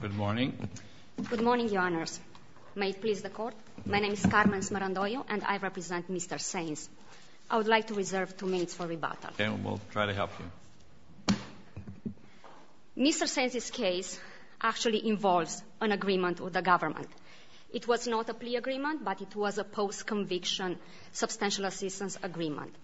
Good morning. Good morning, Your Honours. May it please the Court? My name is Carmen Smarandoglio and I represent Mr. Sainz. I would like to reserve two minutes for rebuttal. And we'll try to help you. Mr. Sainz's case actually involves an agreement with the government. It was not a plea agreement, but it was a post-conviction substantial assistance agreement.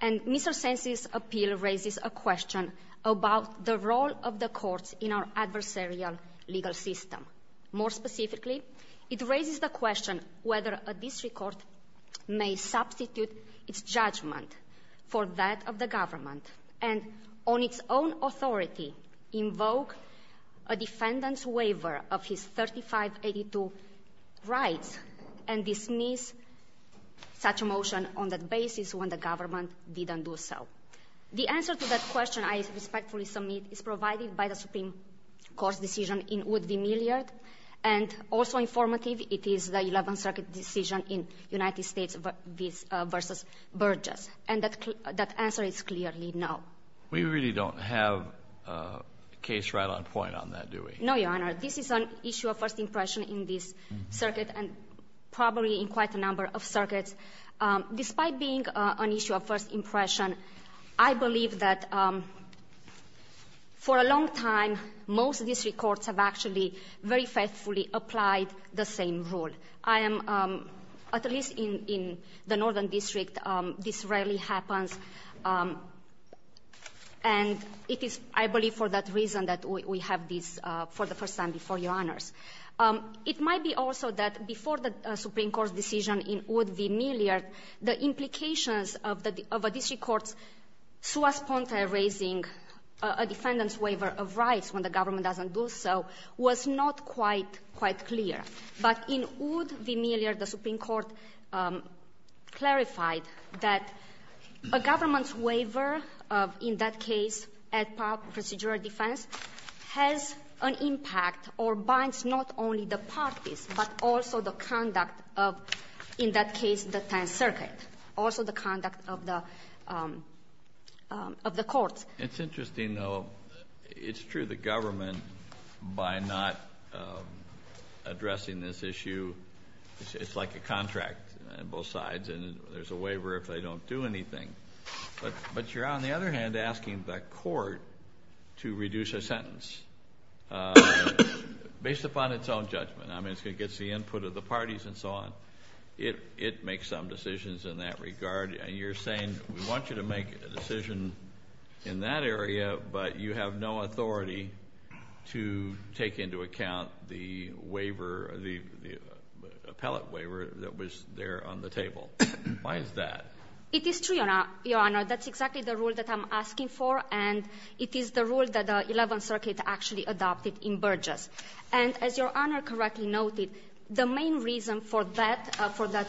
And Mr. Sainz's appeal raises a question about the role of the courts in our adversarial legal system. More specifically, it raises the question whether a district court may substitute its judgment for that of the government and on its own authority invoke a defendant's waiver of his 3582 rights and dismiss such a motion on that basis when the government didn't do so. The answer to that question I respectfully submit is provided by the Supreme Court's decision in Wood v. Milliard. And also informative, it is the Eleventh Circuit decision in United States v. Burgess. And that answer is clearly no. We really don't have a case right on point on that, do we? No, Your Honor. This is an issue of first impression in this circuit and probably in quite a number of circuits. Despite being an issue of first impression, I believe that for a long time most district courts have actually very faithfully applied the same rule. I am, at least in the Northern District, this rarely happens. And it is, I believe, for that reason that we have this for the first time before Your Honors. It might be also that before the Supreme Court's decision in Wood v. Milliard, the implications of a district court's sua sponte raising a defendant's waiver of rights when the government doesn't do so was not quite clear. But in Wood v. Milliard, the Supreme Court clarified that a government's waiver of, in that case, procedural defense has an impact or binds not only the parties but also the conduct of, in that case, the Tenth Circuit, also the conduct of the courts. It's interesting, though. It's true, the government, by not addressing this issue, it's like a contract on both sides and there's a waiver if they don't do anything. But you're, on the other hand, asking the court to reduce a sentence based upon its own judgment. I mean, it gets the input of the parties and so on. It makes some decisions in that regard. And you're saying we want you to make a decision in that area, but you have no authority to take into account the waiver, the appellate waiver that was there on the table. Why is that? It is true, Your Honor. That's exactly the rule that I'm asking for and it is the rule that the Eleventh Circuit actually adopted in Burgess. And as Your Honor correctly noted, the main reason for that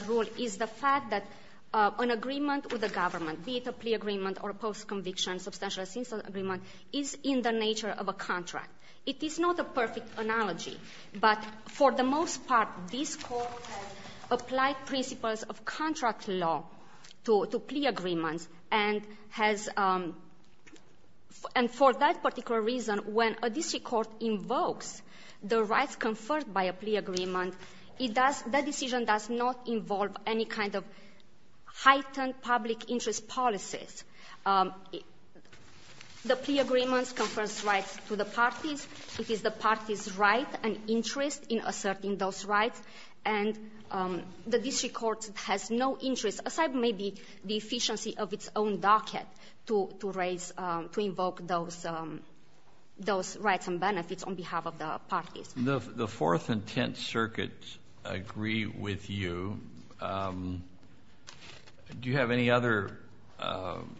rule is the fact that an agreement with the government, be it a plea agreement or a post-conviction substantial assent agreement, is in the nature of a contract. It is not a perfect analogy, but for the most part, this Court has applied principles of contract law to plea agreements and has, and for that particular reason, when a district court invokes the rights conferred by a plea agreement, it does, that decision does not involve any kind of heightened public interest policies. The plea agreements confer rights to the parties. It is the party's right and interest in asserting those rights. And the district court has no interest, aside maybe the efficiency of its own docket, to raise, to invoke those rights and benefits on behalf of the parties. The Fourth and Tenth Circuits agree with you. Do you have any other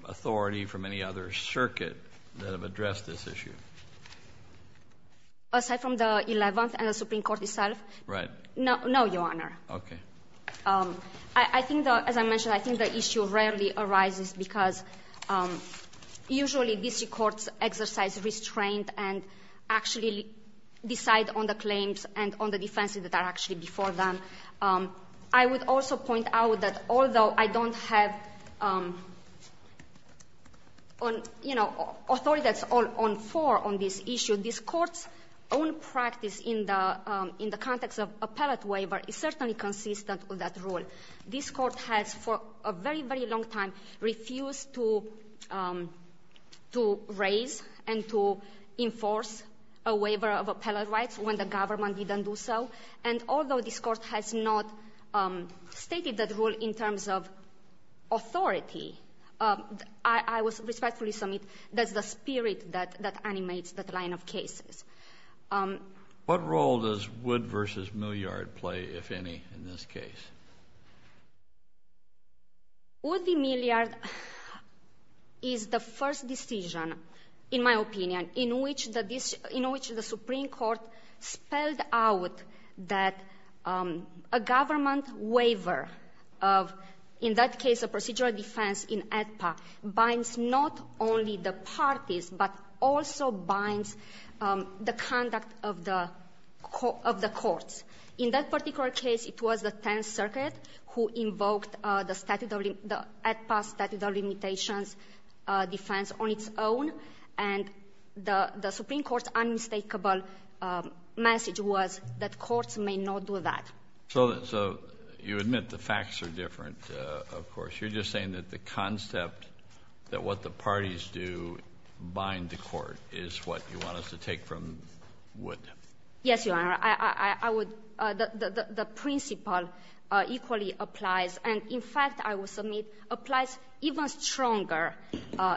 authority from any other circuit that have addressed this issue? Aside from the Eleventh and the Supreme Court itself? Right. No, Your Honor. Okay. I think, as I mentioned, I think the issue rarely arises because usually district courts exercise restraint and actually decide on the claims and on the defenses that are actually before them. I would also point out that although I don't have authority that's all on four on this issue, this Court's own practice in the context of appellate waiver is certainly consistent with that rule. This Court has for a very, very long time refused to raise and to enforce a waiver of appellate rights when the government didn't do so. And although this Court has not stated that rule in terms of authority, I would respectfully submit that's the spirit that animates that line of cases. What role does Wood v. Milliard play, if any, in this case? Wood v. Milliard is the first decision, in my opinion, in which the Supreme Court spelled out that a government waiver of, in that case, a procedural defense in the conduct of the courts. In that particular case, it was the Tenth Circuit who invoked the statute of limitations defense on its own. And the Supreme Court's unmistakable message was that courts may not do that. So you admit the facts are different, of course. You're just saying that the concept that what the parties do bind the court is what you want us to take from Wood. Yes, Your Honor. I would — the principle equally applies. And, in fact, I will submit applies even stronger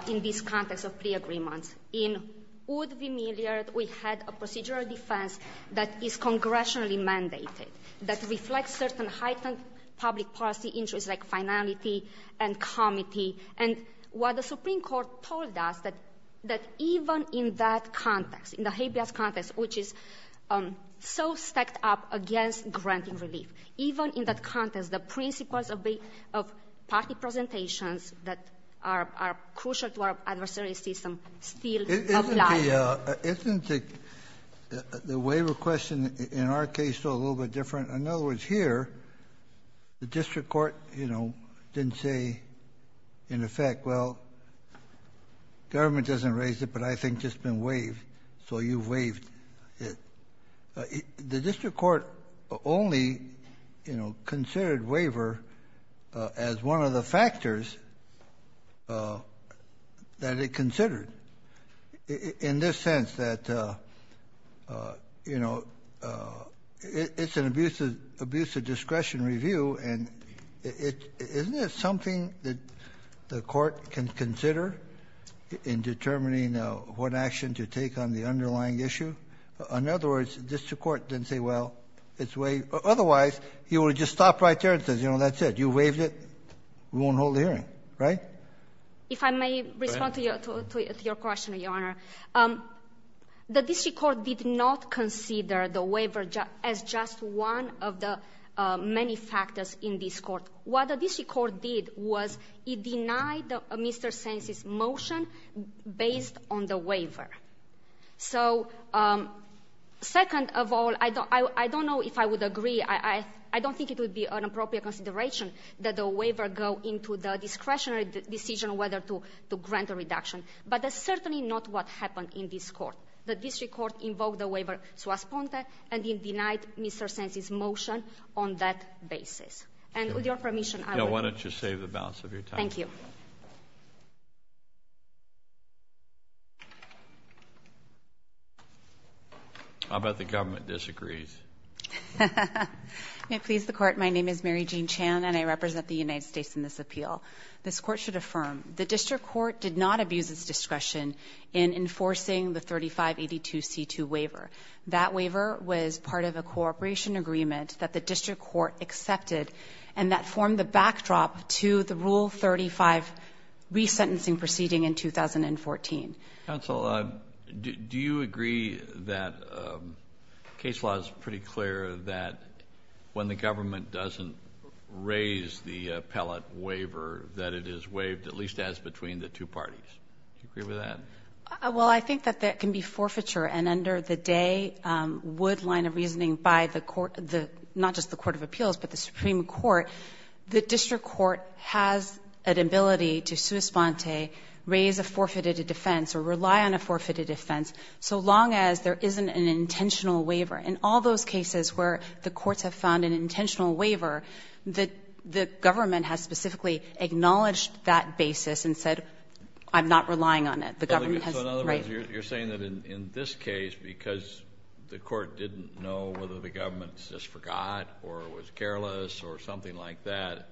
in this context of plea agreements. In Wood v. Milliard, we had a procedural defense that is congressionally mandated, that reflects certain heightened public policy interests like finality and comity. And what the Supreme Court told us, that even in that context, in the habeas context, which is so stacked up against granting relief, even in that context, the principles of party presentations that are crucial to our adversarial system still apply. Isn't the waiver question in our case still a little bit different? In other words, here, the district court, you know, didn't say, in effect, well, government doesn't raise it, but I think it's been waived, so you waived it. The district court only, you know, considered waiver as one of the factors that it would have to consider. And the district court said, well, you know, this is abuse of discretion review, and isn't it something that the court can consider in determining what action to take on the underlying issue? In other words, district court didn't say, well, it's waived. Otherwise, you would have just stopped right there and said, you know, that's it. You waived it. We won't hold the hearing. Right? If I may respond to your question, Your Honor, the district court did not consider the waiver as just one of the many factors in this court. What the district court did was it denied Mr. Sainz's motion based on the waiver. So, second of all, I don't know if I would agree. I don't think it would be an appropriate consideration that the waiver go into the discretionary decision whether to grant a reduction. But that's certainly not what happened in this court. The district court invoked the waiver sua sponte, and it denied Mr. Sainz's motion on that basis. And with your permission, I would agree. Why don't you save the balance of your time? Thank you. I'll bet the government disagrees. May it please the Court, my name is Mary Jean Chan, and I represent the United The district court did not abuse its discretion in enforcing the 3582C2 waiver. That waiver was part of a cooperation agreement that the district court accepted and that formed the backdrop to the Rule 35 resentencing proceeding in 2014. Counsel, do you agree that case law is pretty clear that when the government doesn't raise the appellate waiver that it is waived, at least as between the two parties? Do you agree with that? Well, I think that that can be forfeiture, and under the Day-Wood line of reasoning by the court, not just the Court of Appeals, but the Supreme Court, the district court has an ability to sua sponte, raise a forfeited defense, or rely on a forfeited defense, so long as there isn't an intentional waiver. In all those cases where the courts have found an intentional waiver, the government has specifically acknowledged that basis and said, I'm not relying on it. The government has raised it. So in other words, you're saying that in this case, because the court didn't know whether the government just forgot or was careless or something like that,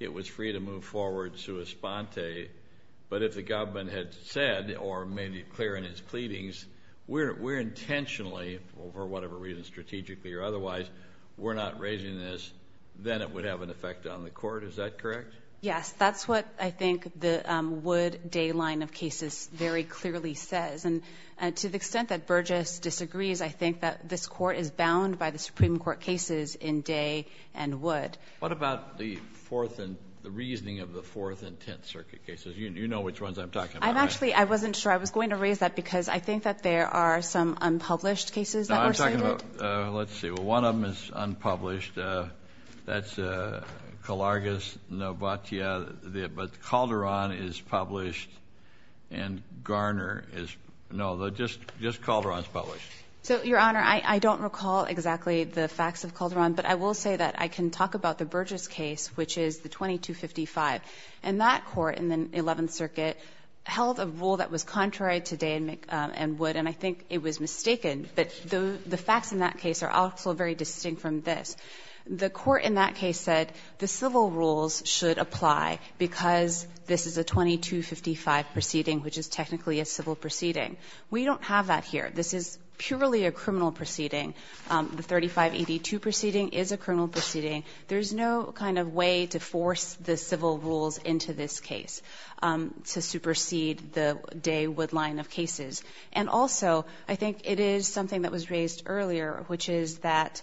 it was free to move forward sua sponte, but if the government had said or made it clear in its otherwise, we're not raising this, then it would have an effect on the court. Is that correct? Yes. That's what I think the Wood-Day line of cases very clearly says. And to the extent that Burgess disagrees, I think that this court is bound by the Supreme Court cases in Day and Wood. What about the reasoning of the Fourth and Tenth Circuit cases? You know which ones I'm talking about, right? Actually, I wasn't sure I was going to raise that because I think that there are some unpublished cases that were cited. Let's see. Well, one of them is unpublished. That's Calargas-Novatia, but Calderon is published and Garner is, no, just Calderon is published. So, Your Honor, I don't recall exactly the facts of Calderon, but I will say that I can talk about the Burgess case, which is the 2255. And that court in the Eleventh Circuit held a rule that was contrary to Day and Wood, and I think it was mistaken. But the facts in that case are also very distinct from this. The court in that case said the civil rules should apply because this is a 2255 proceeding, which is technically a civil proceeding. We don't have that here. This is purely a criminal proceeding. The 3582 proceeding is a criminal proceeding. There is no kind of way to force the civil rules into this case to supersede the Day-Wood line of cases. And also, I think it is something that was raised earlier, which is that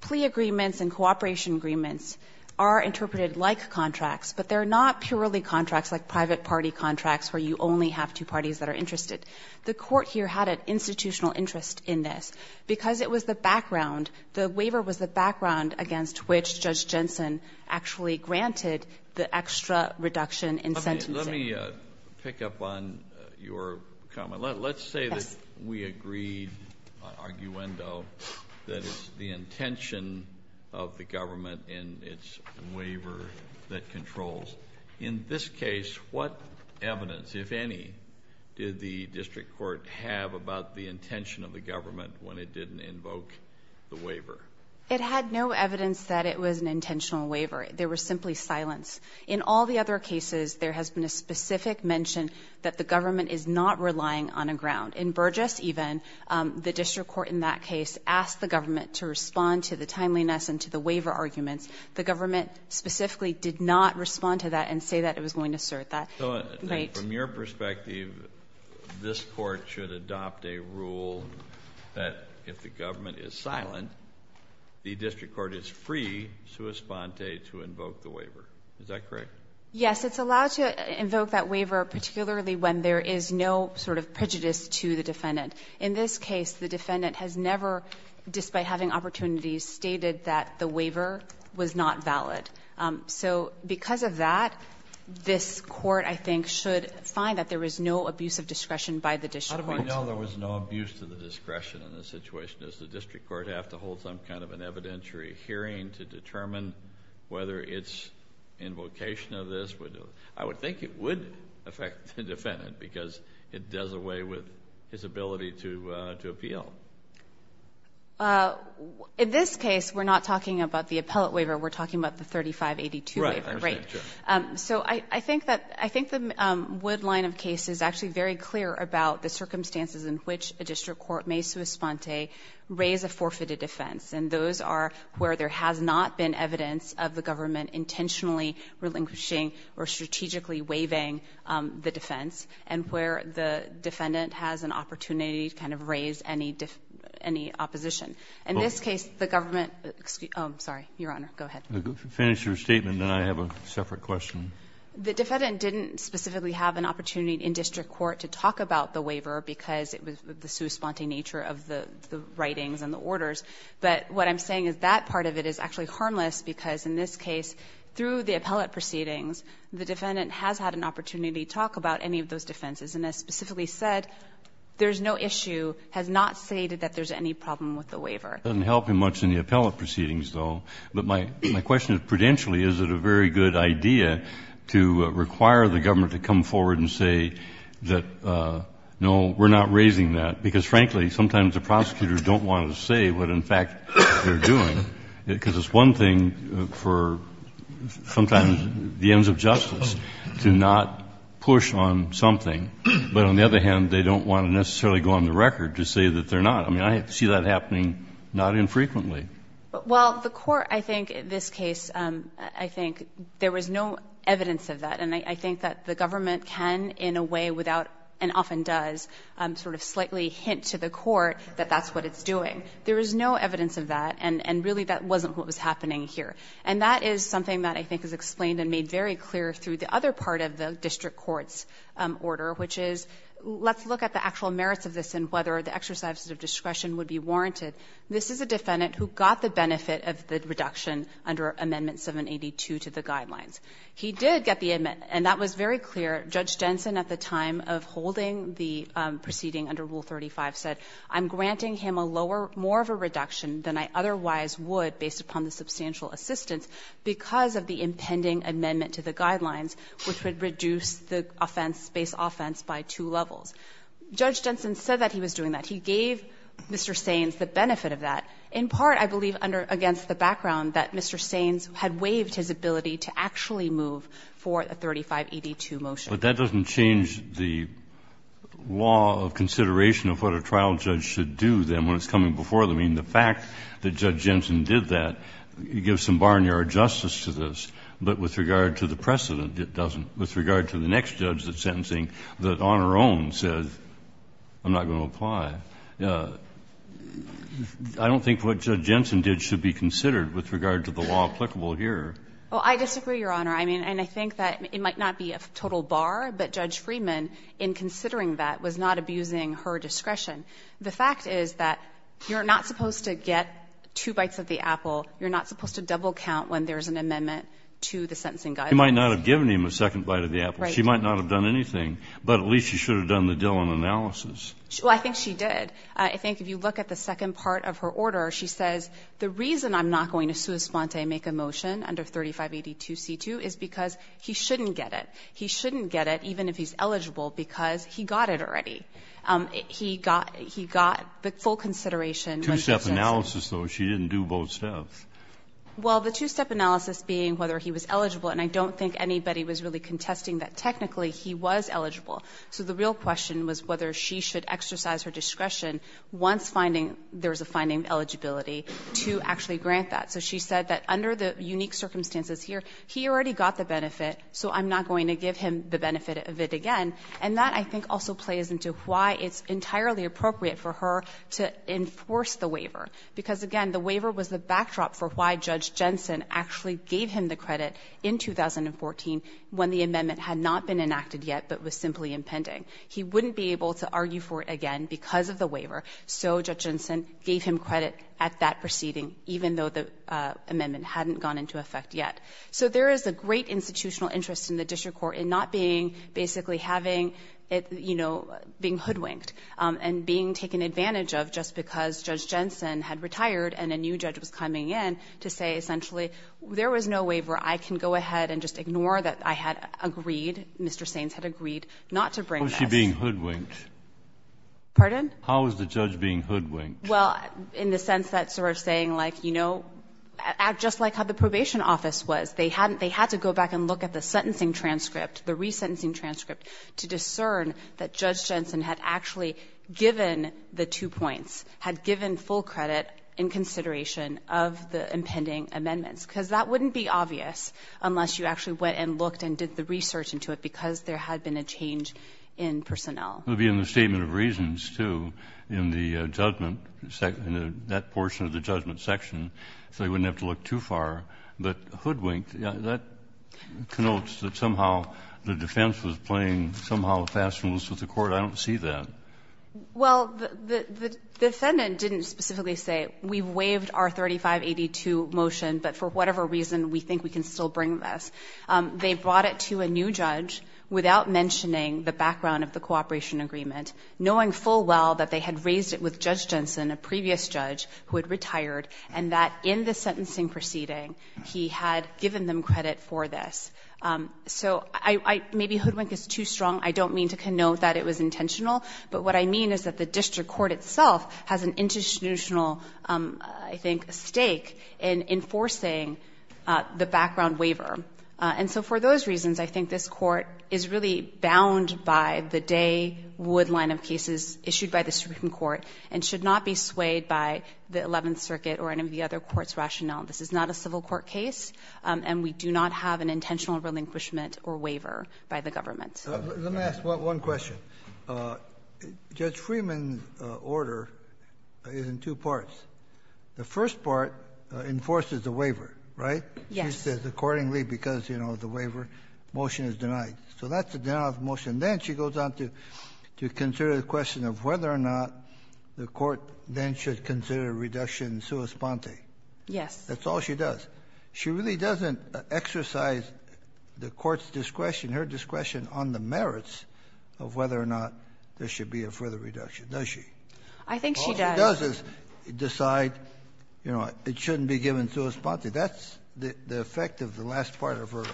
plea agreements and cooperation agreements are interpreted like contracts, but they're not purely contracts like private party contracts where you only have two parties that are interested. The court here had an institutional interest in this. Because it was the background, the waiver was the background against which Judge Jensen actually granted the extra reduction in sentencing. Let me pick up on your comment. Let's say that we agreed on arguendo that it's the intention of the government and its waiver that controls. In this case, what evidence, if any, did the district court have about the intention of the government when it didn't invoke the waiver? It had no evidence that it was an intentional waiver. There was simply silence. In all the other cases, there has been a specific mention that the government is not relying on a ground. In Burgess, even, the district court in that case asked the government to respond to the timeliness and to the waiver arguments. The government specifically did not respond to that and say that it was going to assert that. Right? And from your perspective, this court should adopt a rule that if the government Yes, it's allowed to invoke that waiver, particularly when there is no sort of prejudice to the defendant. In this case, the defendant has never, despite having opportunities, stated that the waiver was not valid. So because of that, this court, I think, should find that there was no abuse of discretion by the district court. How do I know there was no abuse of the discretion in this situation? Does the district court have to hold some kind of an evidentiary hearing to determine whether it's invocation of this? I would think it would affect the defendant because it does away with his ability to appeal. In this case, we're not talking about the appellate waiver. We're talking about the 3582 waiver. Right. So I think the Wood line of case is actually very clear about the circumstances in which a district court may sui sponte, raise a forfeited offense. And those are where there has not been evidence of the government intentionally relinquishing or strategically waiving the defense, and where the defendant has an opportunity to kind of raise any opposition. In this case, the government Excuse me. I'm sorry, Your Honor. Go ahead. If you finish your statement, then I have a separate question. The defendant didn't specifically have an opportunity in district court to talk about the waiver because it was the sui sponte nature of the writings and the orders. But what I'm saying is that part of it is actually harmless, because in this case, through the appellate proceedings, the defendant has had an opportunity to talk about any of those defenses. And as specifically said, there's no issue, has not stated that there's any problem with the waiver. It doesn't help him much in the appellate proceedings, though. But my question is, prudentially, is it a very good idea to require the government to come forward and say that, no, we're not raising that? Because, frankly, sometimes the prosecutors don't want to say what, in fact, they're doing, because it's one thing for sometimes the ends of justice to not push on something. But on the other hand, they don't want to necessarily go on the record to say that they're not. I mean, I see that happening not infrequently. Well, the court, I think, in this case, I think there was no evidence of that. And I think that the government can, in a way, without, and often does, sort of slightly hint to the court that that's what it's doing. There is no evidence of that, and really that wasn't what was happening here. And that is something that I think is explained and made very clear through the other part of the district court's order, which is, let's look at the actual merits of this and whether the exercises of discretion would be warranted. This is a defendant who got the benefit of the reduction under Amendment 782 to the guidelines. He did get the amendment, and that was very clear. Judge Jensen at the time of holding the proceeding under Rule 35 said, I'm granting him a lower, more of a reduction than I otherwise would based upon the substantial assistance because of the impending amendment to the guidelines, which would reduce the offense, base offense, by two levels. Judge Jensen said that he was doing that. He gave Mr. Saines the benefit of that. In part, I believe, against the background that Mr. Saines had waived his ability to actually move for a 35ED2 motion. But that doesn't change the law of consideration of what a trial judge should do, then, when it's coming before them. I mean, the fact that Judge Jensen did that, it gives some barnyard justice to this. But with regard to the precedent, it doesn't. With regard to the next judge that's sentencing, that on her own says, I'm not going to apply. I don't think what Judge Jensen did should be considered with regard to the law applicable here. Well, I disagree, Your Honor. I mean, and I think that it might not be a total bar, but Judge Friedman, in considering that, was not abusing her discretion. The fact is that you're not supposed to get two bites of the apple. You're not supposed to double count when there's an amendment to the sentencing guidelines. You might not have given him a second bite of the apple. Right. She might not have done anything. But at least she should have done the Dillon analysis. Well, I think she did. I think if you look at the second part of her order, she says, the reason I'm not going to sua sponte make a motion under 3582C2 is because he shouldn't get it. He shouldn't get it, even if he's eligible, because he got it already. He got the full consideration. Two-step analysis, though. She didn't do both steps. Well, the two-step analysis being whether he was eligible. And I don't think anybody was really contesting that technically he was eligible. So the real question was whether she should exercise her discretion once finding there's a finding of eligibility to actually grant that. So she said that under the unique circumstances here, he already got the benefit, so I'm not going to give him the benefit of it again. And that, I think, also plays into why it's entirely appropriate for her to enforce the waiver, because, again, the waiver was the backdrop for why Judge Jensen actually gave him the credit in 2014 when the amendment had not been enacted yet, but was simply impending. He wouldn't be able to argue for it again because of the waiver. So Judge Jensen gave him credit at that proceeding, even though the amendment hadn't gone into effect yet. So there is a great institutional interest in the district court in not being basically having it, you know, being hoodwinked and being taken advantage of just because Judge Jensen had retired and a new judge was coming in to say, essentially, there was no waiver. I can go ahead and just ignore that I had agreed, Mr. Sainz had agreed not to bring this. How is she being hoodwinked? Harrington. How is the judge being hoodwinked? Harrington. Well, in the sense that sort of saying, like, you know, just like how the probation office was, they had to go back and look at the sentencing transcript, the resentencing transcript, to discern that Judge Jensen had actually given the two points, had given full credit in consideration of the impending amendments. Because that wouldn't be obvious unless you actually went and looked and did the research into it, because there had been a change in personnel. It would be in the statement of reasons, too, in the judgment, that portion of the judgment section. So they wouldn't have to look too far. But hoodwinked, that connotes that somehow the defense was playing somehow a fast move to the court. I don't see that. Well, the defendant didn't specifically say, we waived our 3582 motion, but for whatever reason we think we can still bring this. They brought it to a new judge without mentioning the background of the cooperation agreement, knowing full well that they had raised it with Judge Jensen, a previous judge who had retired, and that in the sentencing proceeding he had given them credit for this. So maybe hoodwink is too strong. I don't mean to connote that it was intentional. But what I mean is that the district court itself has an institutional, I think, stake in enforcing the background waiver. And so for those reasons, I think this Court is really bound by the Day-Wood line of cases issued by the Supreme Court and should not be swayed by the Eleventh Circuit or any of the other courts' rationale. This is not a civil court case, and we do not have an intentional relinquishment or waiver by the government. Let me ask one question. Judge Freeman's order is in two parts. The first part enforces the waiver, right? Yes. She says accordingly because, you know, the waiver motion is denied. So that's a denial of motion. Then she goes on to consider the question of whether or not the court then should consider a reduction in sua sponte. Yes. That's all she does. She really doesn't exercise the court's discretion, her discretion on the merits of whether or not there should be a further reduction, does she? I think she does. All she does is decide, you know, it shouldn't be given sua sponte. That's the effect of the last part of her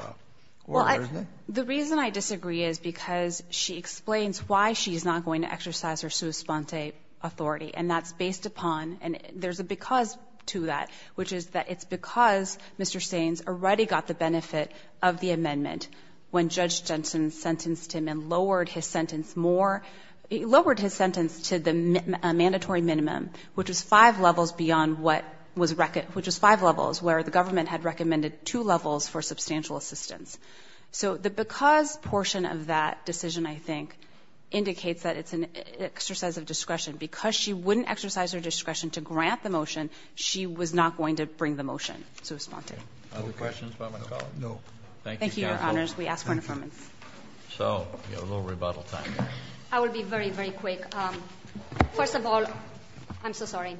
order, isn't it? Well, the reason I disagree is because she explains why she's not going to exercise her sua sponte authority, and that's based upon, and there's a because to that, which is that it's because Mr. Staines already got the benefit of the amendment when Judge Jensen sentenced him and lowered his sentence more, lowered his sentence to a mandatory minimum, which was five levels beyond what was, which was five levels where the government had recommended two levels for substantial assistance. So the because portion of that decision, I think, indicates that it's an exercise of discretion. Because she wouldn't exercise her discretion to grant the motion, she was not going to bring the motion sua sponte. No questions about my comment? No. Thank you, Your Honors. We ask for an affirmance. So we have a little rebuttal time. I will be very, very quick. First of all, I'm so sorry,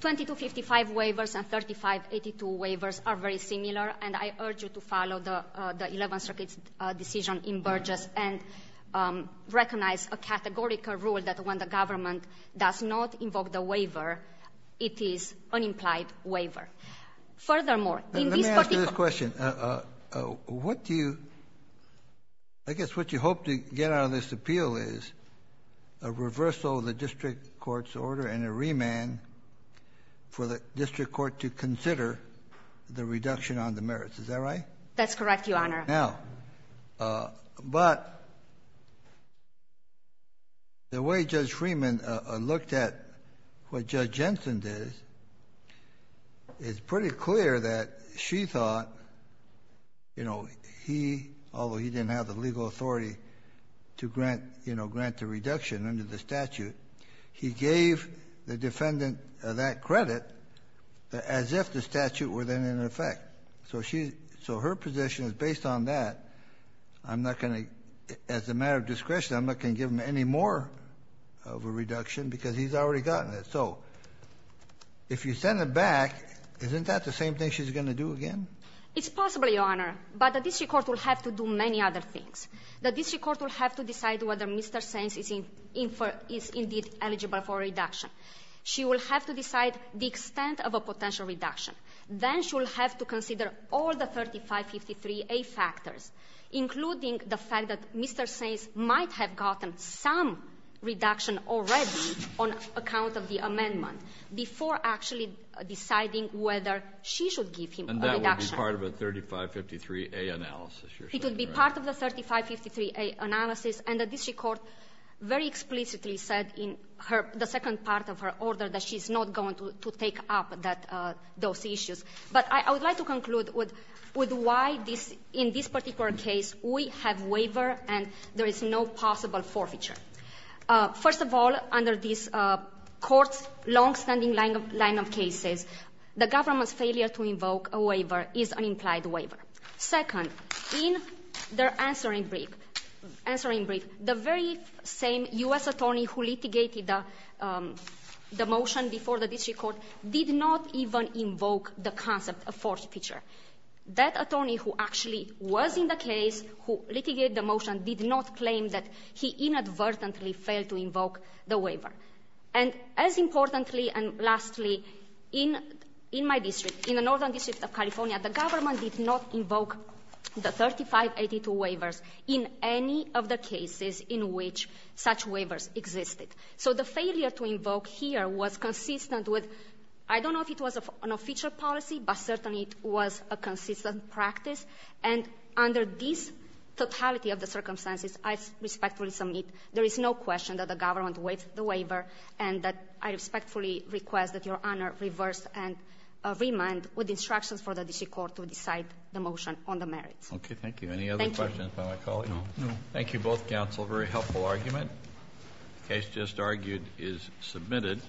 2255 waivers and 3582 waivers are very similar, and I urge you to follow the Eleventh Circuit's decision in Burgess and recognize a categorical rule that when the government does not invoke the waiver, it is unimplied waiver. Furthermore, in this particular Let me ask you this question. What do you, I guess what you hope to get out of this appeal is a reversal of the district court's order and a remand for the district court to consider the reduction on the merits. Is that right? That's correct, Your Honor. Now, but the way Judge Freeman looked at what Judge Jensen did is pretty clear that she thought, you know, he, although he didn't have the legal authority to grant, you know, grant the reduction under the statute, he gave the defendant that credit as if the statute were then in effect. So she, so her position is based on that. I'm not going to, as a matter of discretion, I'm not going to give him any more of a reduction because he's already gotten it. So if you send it back, isn't that the same thing she's going to do again? It's possible, Your Honor, but the district court will have to do many other things. The district court will have to decide whether Mr. Sainz is in, is indeed eligible for a reduction. She will have to decide the extent of a potential reduction. Then she will have to consider all the 3553A factors, including the fact that Mr. Sainz might have gotten some reduction already on account of the amendment before actually deciding whether she should give him a reduction. And that would be part of a 3553A analysis, you're saying, right? It would be part of the 3553A analysis. And the district court very explicitly said in her, the second part of her order that she's not going to take up those issues. But I would like to conclude with why in this particular case we have waiver and there is no possible forfeiture. First of all, under this court's longstanding line of cases, the government's failure to invoke a waiver is an implied waiver. Second, in their answering brief, the very same U.S. attorney who litigated the motion before the district court did not even invoke the concept of forfeiture. That attorney who actually was in the case who litigated the motion did not claim that he inadvertently failed to invoke the waiver. And as importantly and lastly, in my district, in the northern district of California, the government did not invoke the 3582 waivers in any of the cases in which such waivers existed. So the failure to invoke here was consistent with, I don't know if it was an official policy, but certainly it was a consistent practice. And under this totality of the circumstances, I respectfully submit there is no question that the government waived the waiver and that I respectfully request that Your Honor reverse and remand with instructions for the district court to decide the motion on the merits. Thank you. Any other questions by my colleague? No. Thank you both, counsel. Very helpful argument. The case just argued is submitted.